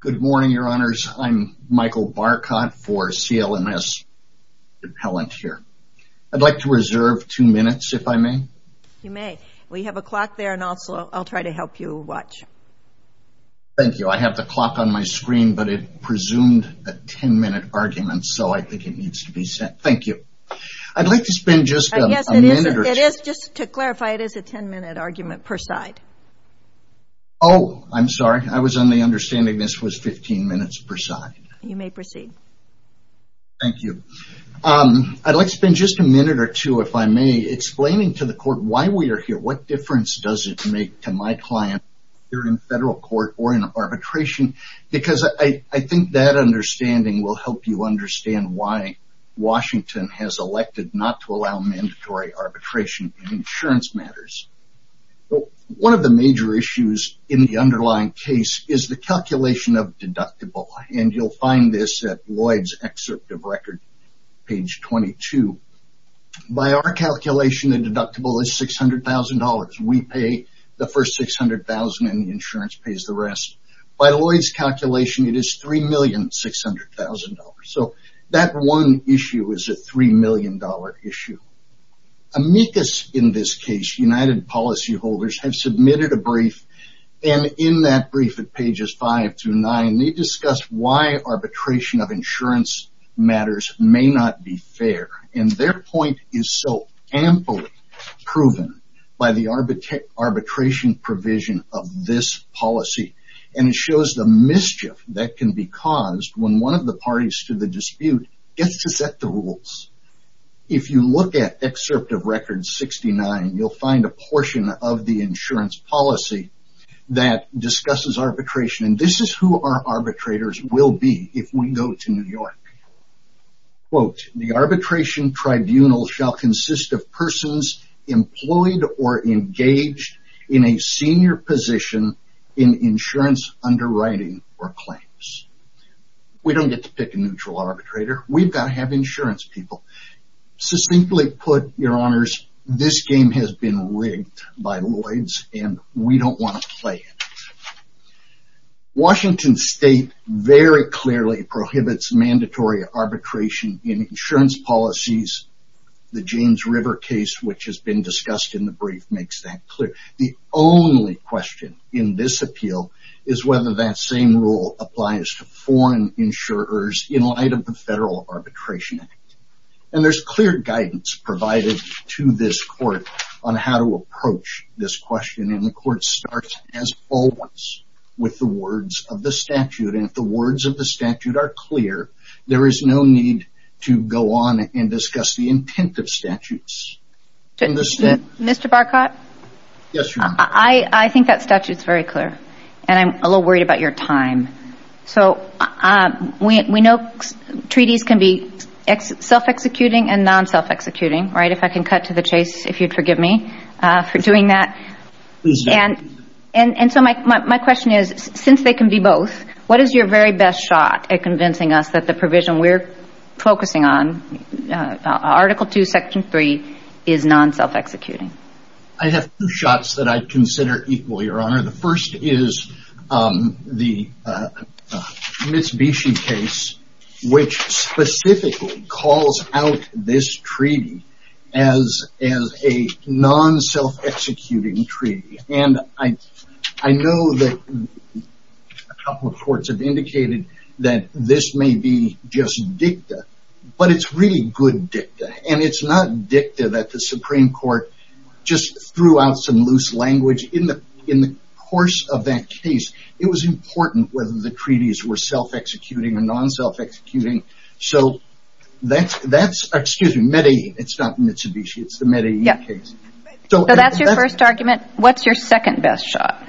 Good morning, your honors. I'm Michael Barcott for CLMS Compellent here. I'd like to reserve two minutes, if I may. You may. We have a clock there and also I'll try to help you watch. Thank you. I have the clock on my screen, but it presumed a ten-minute argument, so I think it needs to be sent. Thank you. I'd like to spend just a minute. Yes, it is. Just to clarify, it is a ten-minute argument per side. Oh, I'm sorry. I was on the understanding this was fifteen minutes per side. You may proceed. Thank you. I'd like to spend just a minute or two, if I may, explaining to the court why we are here. What difference does it make to my client here in federal court or in arbitration? Because I think that understanding will help you understand why Washington has elected not to allow mandatory arbitration in insurance matters. One of the major issues in the underlying case is the calculation of deductible, and you'll find this at Lloyd's excerpt of record, page 22. By our calculation, the deductible is $600,000. We pay the first $600,000 and the insurance pays the rest. By Lloyd's calculation, it is $3,600,000. So that one issue is a $3 million issue. Amicus, in this case, United Policyholders, have submitted a brief, and in that brief at pages five through nine, they discuss why arbitration of insurance matters may not be fair, and their point is so amply proven by the arbitration provision of this policy, and it shows the mischief that can be caused when one of the parties to the dispute gets to set the rules. If you look at excerpt of record 69, you'll find a portion of the insurance policy that discusses arbitration, and this is who our arbitrators will be if we go to New York. Quote, the arbitration tribunal shall consist of persons employed or engaged in a senior position in insurance underwriting or claims. We don't get to pick a neutral arbitrator. We've got to have insurance people. So simply put, your honors, this game has been rigged by Lloyd's, and we don't want to play it. Washington State very clearly prohibits mandatory arbitration in insurance policies. The James River case, which has been discussed in the brief, makes that clear. The only question in this appeal is whether that same rule applies to foreign insurers in light of the Federal Arbitration Act, and there's clear guidance provided to this court on how to approach this question, and the court starts as always with the words of the statute, and if the words of the statute are clear, there is no need to go on and discuss the intent of statutes. Mr. Barcott? Yes, Your Honor. I think that statute's very clear, and I'm a little worried about your time. So we know treaties can be self-executing, and non-self-executing, right? If I can cut to the chase, if you'd forgive me for doing that. Please do. And so my question is, since they can be both, what is your very best shot at convincing us that the provision we're focusing on, Article 2, Section 3, is non-self-executing? I have two shots that I'd consider equal, Your Honor. The first is the Mitsubishi case, which specifically calls out this treaty as a non-self-executing treaty, and I know that a couple of courts have indicated that this may be just dicta, but it's really good dicta, and it's not dicta that the Supreme Court just threw out some loose language. In the course of that case, it was important whether the treaties were self-executing or non-self-executing. So that's, that's, excuse me, Medellin, it's not Mitsubishi, it's the Medellin case. So that's your first argument. What's your second best shot?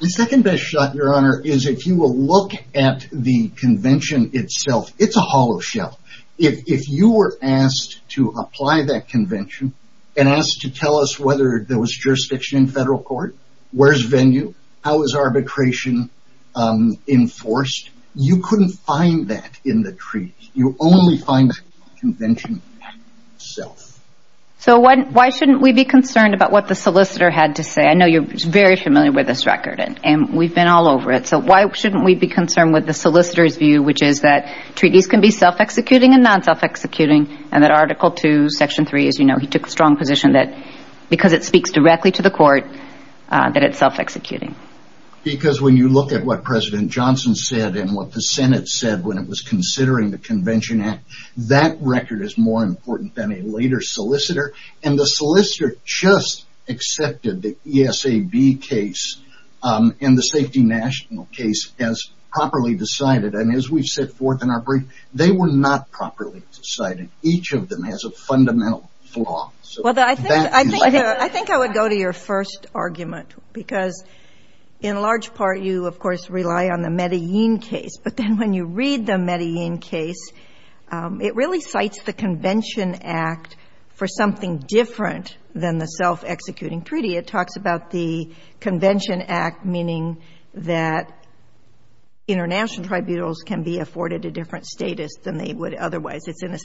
The second best shot, Your Honor, is if you will look at the convention itself, it's a hollow shell. If you were asked to apply that convention, and asked to tell us whether there was jurisdiction in federal court, where's venue, how is arbitration enforced, you couldn't find that in the treaty. You only find that convention itself. So why shouldn't we be concerned about what the solicitor had to say? I know you're very familiar with this record, and we've been all over it, so why shouldn't we be concerned with the solicitor's view, which is that treaties can be self-executing and non-self-executing, and that Article 2, Section 3, as you know, he took a strong position that because it speaks directly to the Because when you look at what President Johnson said, and what the Senate said when it was considering the Convention Act, that record is more important than a later solicitor, and the solicitor just accepted the ESAB case, and the Safety National case as properly decided, and as we've set forth in our brief, they were not properly decided. Each of them has a fundamental flaw. Well, I think I would go to your first argument, because in large part, you, of course, rely on the Medellin case, but then when you read the Medellin case, it really cites the Convention Act for something different than the self-executing treaty. It talks about the Convention Act meaning that international tribunals can be afforded a different status than they would otherwise. It's in a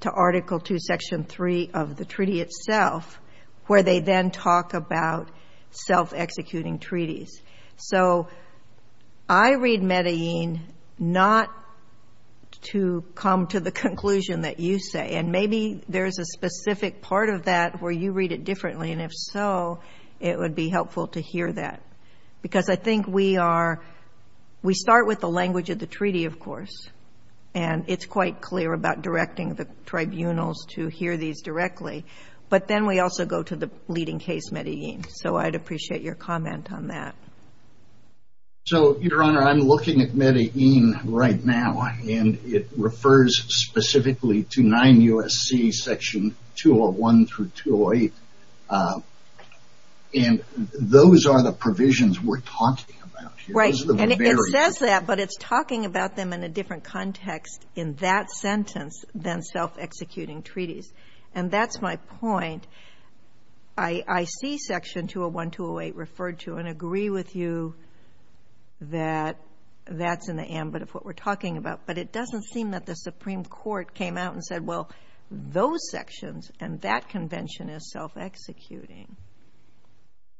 to Article 2, Section 3 of the treaty itself, where they then talk about self-executing treaties. So, I read Medellin not to come to the conclusion that you say, and maybe there's a specific part of that where you read it differently, and if so, it would be helpful to hear that, because I think we start with the language of the treaty, of course, and it's quite clear about directing the tribunals to hear these directly, but then we also go to the leading case, Medellin. So, I'd appreciate your comment on that. So, Your Honor, I'm looking at Medellin right now, and it refers specifically to Right, and it says that, but it's talking about them in a different context in that sentence than self-executing treaties, and that's my point. I see Section 201-208 referred to and agree with you that that's in the ambit of what we're talking about, but it doesn't seem that the Supreme Court came out and said, well, those sections and that convention is self-executing.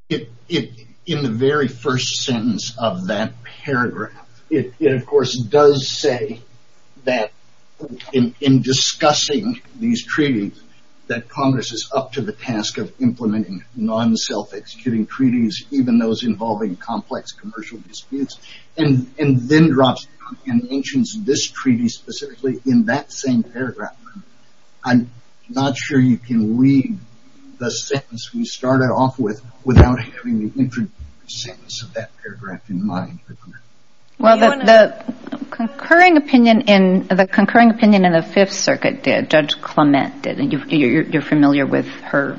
It, in the very first sentence of that paragraph, it, of course, does say that in discussing these treaties that Congress is up to the task of implementing non-self-executing treaties, even those involving complex commercial disputes, and then drops down and mentions this treaty specifically in that same paragraph. I'm not sure you can leave the sentence we started off with without having the intro sentence of that paragraph in mind. Well, the concurring opinion in the Fifth Circuit did, Judge Clement did, and you're familiar with her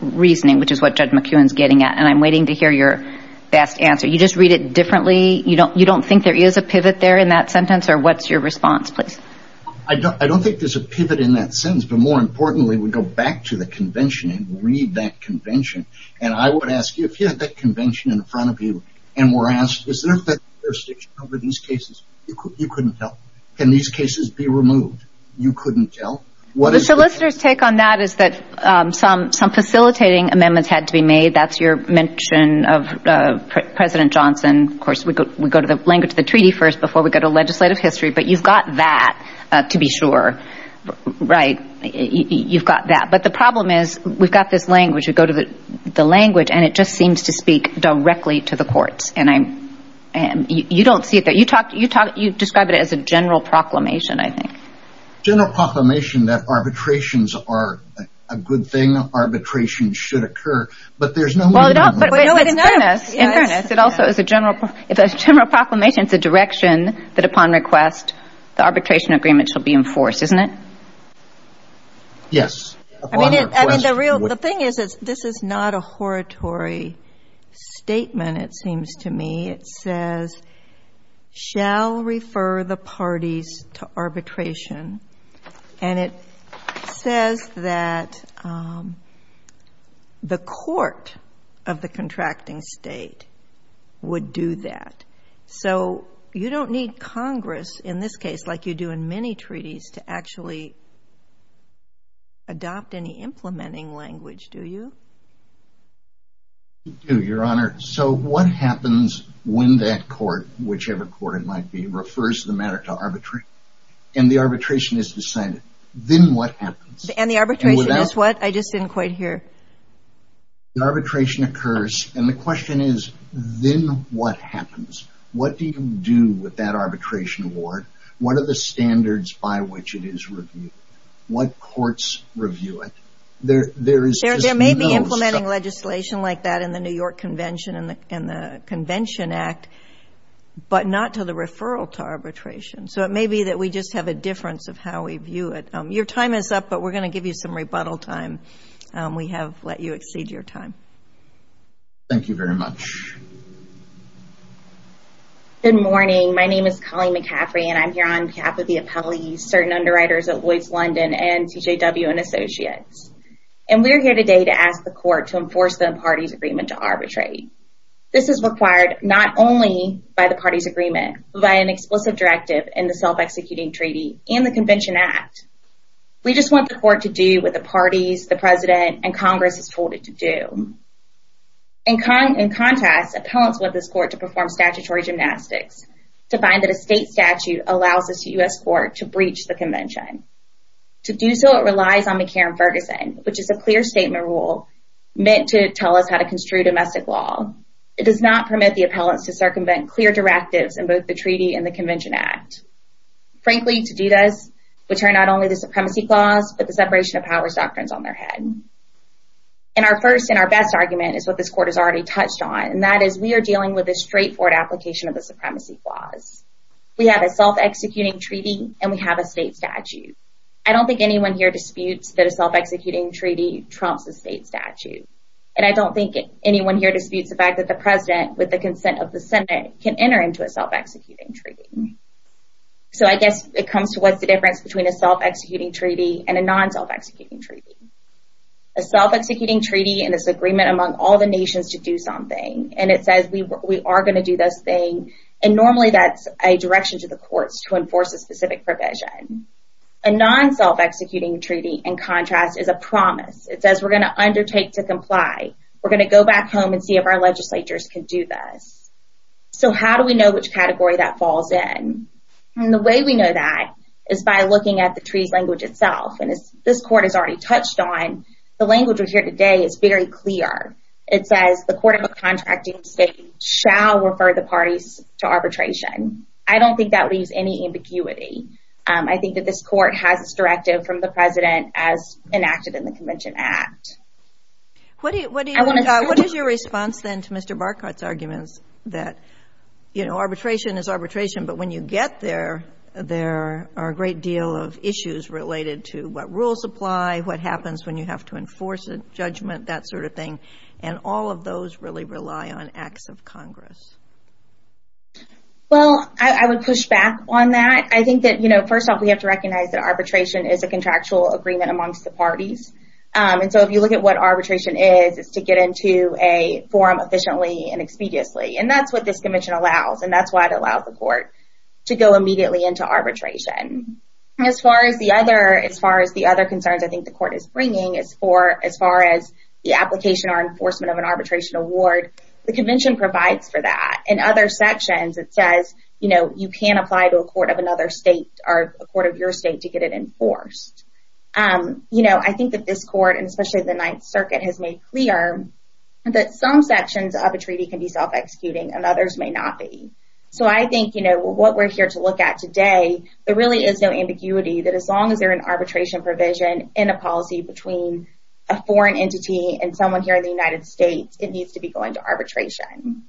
reasoning, which is what Judge McEwen's getting at, and I'm waiting to hear your best answer. You just read it differently? You don't think there is a pivot there in that sentence, or what's your response, please? I don't think there's a pivot in that sentence, but more importantly, we go back to the convention and read that convention, and I would ask you if you had that convention in front of you and were asked, is there jurisdiction over these cases? You couldn't tell. Can these cases be removed? You couldn't tell. The solicitor's take on that is that some facilitating amendments had to be made. That's your mention of President Johnson. Of course, we go to the language of the treaty first before we go to legislative history, but you've got that to be sure, right? You've got that, but the problem is we've got this language. We go to the language, and it just seems to speak directly to the courts, and you don't see it there. You describe it as a general proclamation, I think. General proclamation that arbitrations are a good thing. Arbitration should occur, but there's no... In fairness, it also is a general proclamation. It's a direction that upon request, the arbitration agreement shall be enforced, isn't it? Yes. I mean, the thing is, this is not a horatory statement, it seems to me. It says, shall refer the parties to arbitration, and it says that the court of the contracting state would do that. You don't need Congress, in this case, like you do in many treaties, to actually adopt any implementing language, do you? You do, Your Honor. So what happens when that court, whichever court it might be, refers the matter to arbitration, and the arbitration is decided? Then what happens? And the arbitration is what? I just didn't quite hear. The arbitration occurs, and the question is, then what happens? What do you do with that arbitration award? What are the standards by which it is reviewed? What courts review it? There may be implementing legislation like that in the New York Convention and the Convention Act, but not to the referral to arbitration. So it may be that we just have a difference of how we view it. Your time is up, but we're going to give you some rebuttal time. We have let you exceed your time. Thank you very much. Good morning. My name is Colleen McCaffrey, and I'm here on behalf of certain underwriters at Lloyd's London and TJW and Associates. And we're here today to ask the court to enforce the parties' agreement to arbitrate. This is required not only by the parties' agreement, but by an explicit directive in the self-executing treaty and the Convention Act. We just want the court to do what the parties, the President, and Congress has told it to do. In contrast, appellants want this court to perform statutory gymnastics, to find that a state statute allows this U.S. court to breach the Convention. To do so, it relies on McCarran-Ferguson, which is a clear statement rule meant to tell us how to construe domestic law. It does not permit the appellants to circumvent clear directives in both the treaty and the Convention Act. Frankly, to do this would turn not only the supremacy clause, but the separation of powers doctrines on their head. And our first and our best argument is what this court has already touched on, and that is we are dealing with a straightforward application of the supremacy clause. We have a self-executing treaty, and we have a state statute. I don't think anyone here disputes that a self-executing treaty trumps a state statute. And I don't think anyone here disputes the fact that the President, with the consent of the Senate, can enter into a self-executing treaty. So I guess it comes to what's the difference between a self-executing treaty and a non-self-executing treaty. A self-executing treaty in this agreement among all the nations to do something, and it says we are going to do this thing, and normally that's a direction to the courts to enforce a specific provision. A non-self-executing treaty, in contrast, is a promise. It says we're going to undertake to comply. We're going to go back home and see if our legislatures can do this. So how do we know which category that falls in? And the way we know that is by looking at the treaty's language itself. And as this court has already touched on, the language we hear today is very clear. It says the court of a contracting state shall refer the parties to arbitration. I don't think that leaves any ambiguity. I think that this court has its directive from the President as enacted in the Convention Act. What is your response then to Mr. Barkat's arguments that, you know, arbitration is arbitration, but when you get there, there are a great deal of issues related to what rules apply, what happens when you have to enforce a judgment, that sort of thing. And all of those really rely on acts of Congress. Well, I would push back on that. I think that, you know, first off, we have to recognize that arbitration is a contractual agreement amongst the parties. And so if you look at what arbitration is, it's to get into a forum efficiently and expediously. And that's what this convention allows, and that's why it allows the court to go immediately into arbitration. As far as the other concerns I think the court is bringing, as far as the application or enforcement of an arbitration award, the convention provides for that. In other sections, it says, you know, you can apply to a court of another state or a court of your state to get it enforced. You know, I think that this court, and especially the Ninth Circuit, has made clear that some sections of a treaty can be self-executing and others may not be. So I think, you know, what we're here to look at today, there really is no ambiguity that as long as there's an arbitration provision in a policy between a foreign entity and someone here in the United States, it needs to be going to arbitration.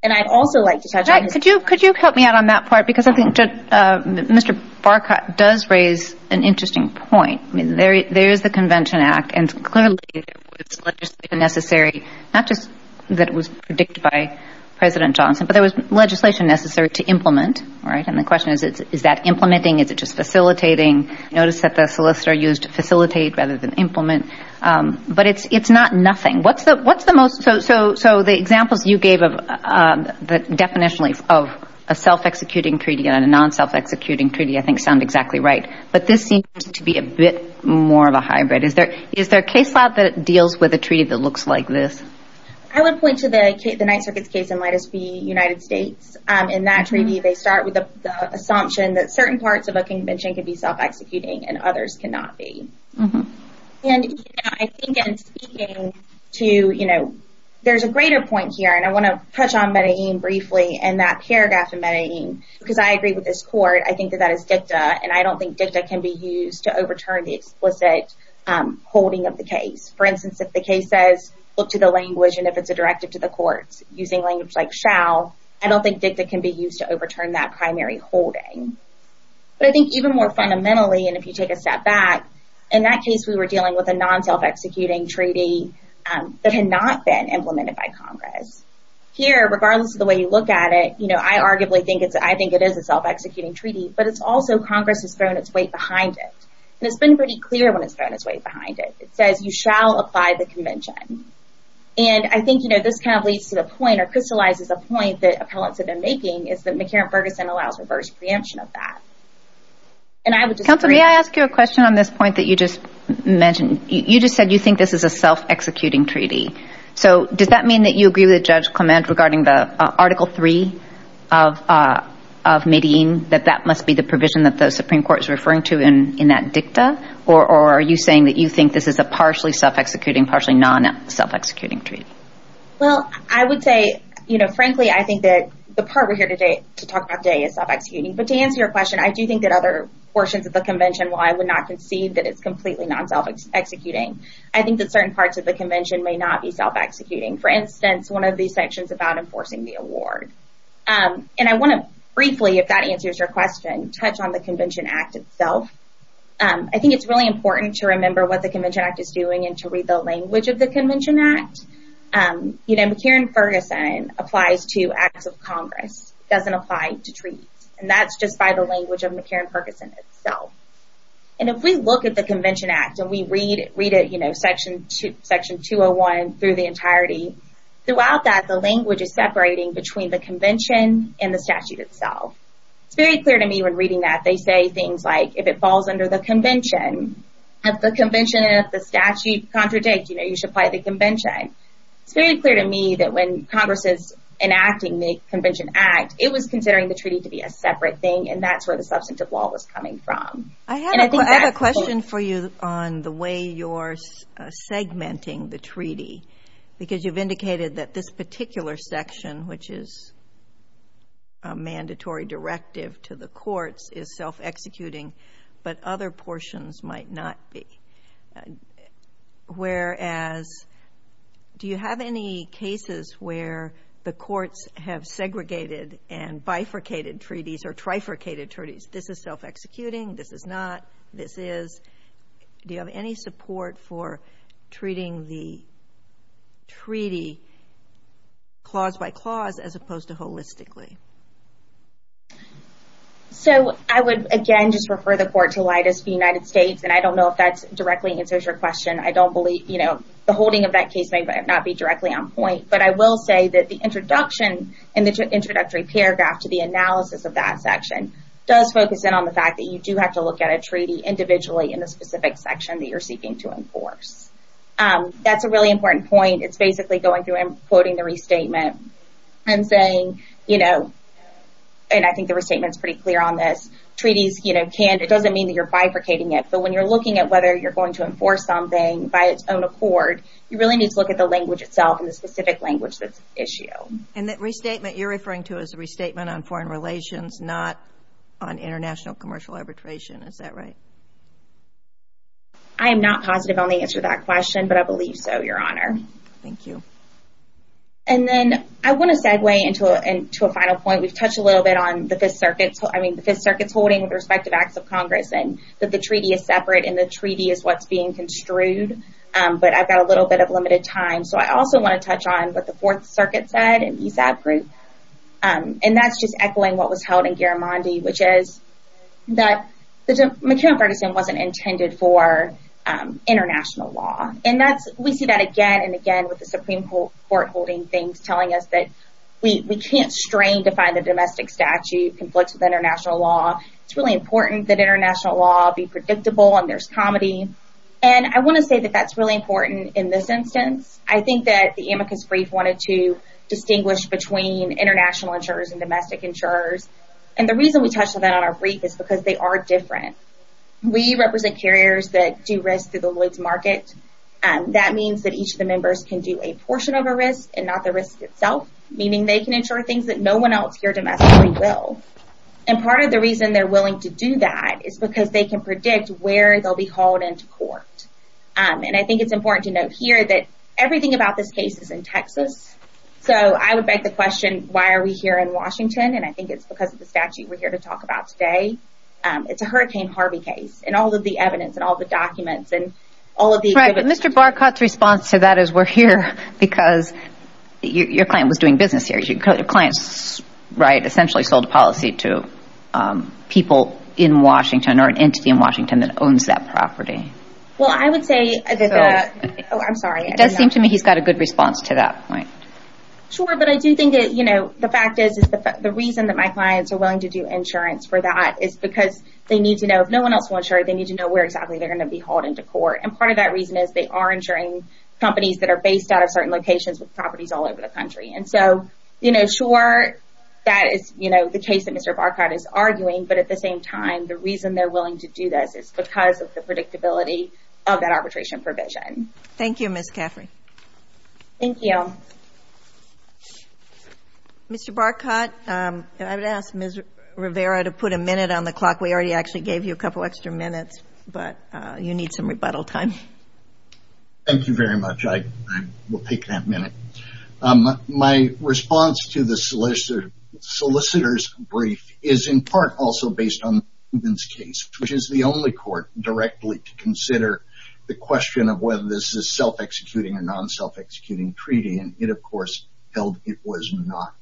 And I'd also like to touch on this. Could you help me out on that part? Because I think Mr. Barkat does raise an interesting point. I mean, there is the Convention Act, and clearly it was legislative necessary, not just that it was predicted by President Johnson, but there was legislation necessary to implement, right? And the question is, is that implementing? Is it just facilitating? Notice that the solicitor used facilitate rather than implement. But it's not nothing. So the examples you gave definitionally of a self-executing treaty and a non-self-executing treaty I think sound exactly right. But this seems to be a bit more of a hybrid. Is there a case law that deals with a treaty that looks like this? I would point to the Ninth Circuit's case in Lettice v. United States. In that treaty, they start with the assumption that certain parts of a convention could be self-executing and others cannot be. And I think in speaking to, you know, there's a greater point here, and I want to touch on Medellin briefly, and that paragraph in Medellin, because I agree with this court. I think that that is dicta, and I don't think dicta can be used to overturn the explicit holding of the case. For instance, if the case says, look to the language, and if it's a directive to the courts using language like shall, I don't think dicta can be used to overturn that primary holding. But I think even more fundamentally, and if you take a step back, in that case, we were dealing with a non-self-executing treaty that had not been implemented by Congress. Here, regardless of the way you look at it, you know, I arguably think it's, I think it is a self-executing treaty, but it's also Congress has thrown its weight behind it. And it's been pretty clear when it's thrown its weight behind it. It says you shall apply the convention. And I think, you know, this kind of leads to the point or crystallizes a point that appellants have been making, is that McCarran-Ferguson allows reverse preemption of that. And I would just- Counsel, may I ask you a question on this point that you just mentioned? You just said you think this is a self-executing treaty. So does that mean that you agree with Judge Clement regarding the Article 3 of Medellin, that that must be the provision that the Supreme Court is referring to in that dicta? Or are you saying that you think this is a partially self-executing, partially non-self-executing treaty? Well, I would say, you know, frankly, I think that the part we're here to talk about today is self-executing. But to answer your question, I do think that other portions of the convention, while I would not concede that it's completely non-self-executing, I think that certain parts of the convention may not be self-executing. For instance, one of these sections about enforcing the award. And I want to briefly, if that answers your question, touch on the Convention Act itself. I think it's really important to remember what the Convention Act is doing and to read the language of the Convention Act. You know, McCarran-Ferguson applies to Acts of Congress. It doesn't apply to treaties. And that's just by the language of McCarran-Ferguson itself. And if we look at the Convention Act and we read it, you know, Section 201 through the entirety, throughout that, the language is separating between the convention and the statute itself. It's very clear to me when reading that. They say things like, if it falls under the convention, if the convention and if the statute contradict, you know, you should apply the convention. It's very clear to me that when Congress is enacting the Convention Act, it was considering the treaty to be a separate thing. And that's where the substantive law was coming from. I have a question for you on the way you're segmenting the treaty. Because you've indicated that this particular section, which is a mandatory directive to the courts, is self-executing, but other portions might not be. Whereas, do you have any cases where the courts have segregated and bifurcated treaties or trifurcated treaties? This is self-executing. This is not. This is. Do you have any support for treating the treaty clause by clause as opposed to holistically? So, I would, again, just refer the court to Leidas v. United States. And I don't know if that's directly answers your question. I don't believe, you know, the holding of that case may not be directly on point. But I will say that the introduction and the introductory paragraph to the analysis of that section does focus in on the fact that you do have to look at a treaty individually in a specific section that you're seeking to enforce. That's a really important point. It's basically going through and quoting the restatement and saying, you know, and I think the restatement's pretty clear on this, treaties, you know, can't, it doesn't mean that you're bifurcating it. But when you're looking at whether you're going to enforce something by its own accord, you really need to look at the language itself and the specific language that's at issue. And that restatement you're referring to is a restatement on foreign relations, not on international commercial arbitration. Is that right? I am not positive on the answer to that question, but I believe so, Your Honor. Thank you. And then I want to segue into a final point. We've touched a little bit on the Fifth Circuit. I mean, the Fifth Circuit's holding the respective acts of Congress and that the treaty is separate and the treaty is what's being construed. But I've got a little bit of limited time. So I also want to touch on what the Fourth Circuit said and ESAB group. And that's just in Garamondi, which is that the McKeown-Ferguson wasn't intended for international law. And that's, we see that again and again with the Supreme Court holding things, telling us that we can't strain to find a domestic statute conflicts with international law. It's really important that international law be predictable and there's comedy. And I want to say that that's really important in this instance. I think that the amicus brief wanted to distinguish between international insurers and domestic insurers. And the reason we touched on that on our brief is because they are different. We represent carriers that do risk through the Lloyd's market. That means that each of the members can do a portion of a risk and not the risk itself, meaning they can insure things that no one else here domestically will. And part of the reason they're willing to do that is because they can predict where they'll be hauled into court. And I think it's important to note here that everything about this case is in Texas. So I would beg the question, why are we here in Washington? And I think it's because of the statute we're here to talk about today. It's a Hurricane Harvey case and all of the evidence and all the documents and all of the exhibits. Right, but Mr. Barcott's response to that is we're here because your client was doing business here. Your client essentially sold a policy to people in Washington or an entity in Washington that owns that property. Well, I would say... Oh, I'm sorry. It does seem to me he's got a good response to that point. Sure, but I do think the fact is the reason that my clients are willing to do insurance for that is because they need to know if no one else will insure, they need to know where exactly they're going to be hauled into court. And part of that reason is they are insuring companies that are based out of certain locations with properties all over the country. And so, sure, that is the case that Mr. Barcott is arguing. But at the same time, the reason they're willing to do this is because of the predictability of that arbitration provision. Thank you, Ms. Caffrey. Thank you. Mr. Barcott, I would ask Ms. Rivera to put a minute on the clock. We already actually gave you a couple extra minutes, but you need some rebuttal time. Thank you very much. I will take that minute. My response to the solicitor's brief is in part also based on the Rubin's case, which is the only court directly to consider the question of whether this is self-executing or non-self-executing treaty. And it, of course, held it was not.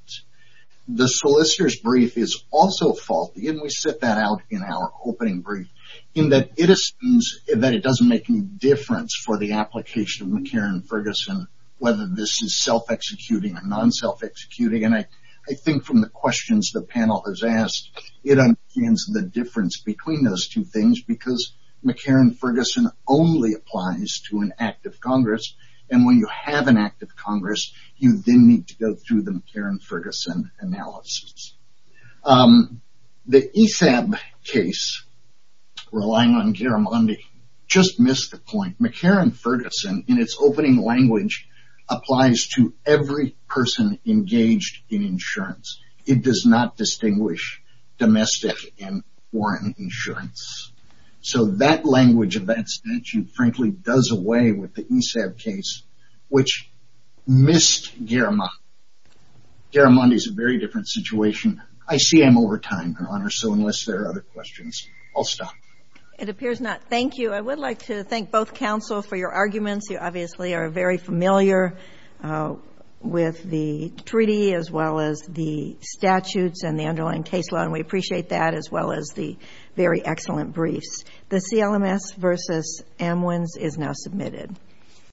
The solicitor's brief is also faulty, and we set that out in our opening brief, in that it assumes that it doesn't make any difference for the application of McCarran-Ferguson whether this is self-executing or non-self-executing. I think from the questions the panel has asked, it understands the difference between those two things, because McCarran-Ferguson only applies to an act of Congress, and when you have an act of Congress, you then need to go through the McCarran-Ferguson analysis. The ESAB case, relying on Garamondi, just missed the point. McCarran-Ferguson, in its opening language, applies to every person engaged in insurance. It does not distinguish domestic and foreign insurance. So that language of that statute, frankly, does away with the ESAB case, which missed Garamondi. Garamondi is a very different situation. I see I'm over time, Your Honor, so unless there are other questions, I'll stop. It appears not. Thank you. I would like to thank both counsel for your arguments. You obviously are very familiar with the treaty, as well as the statutes and the underlying case law, and we appreciate that, as well as the very excellent briefs. The CLMS v. Amwins is now submitted.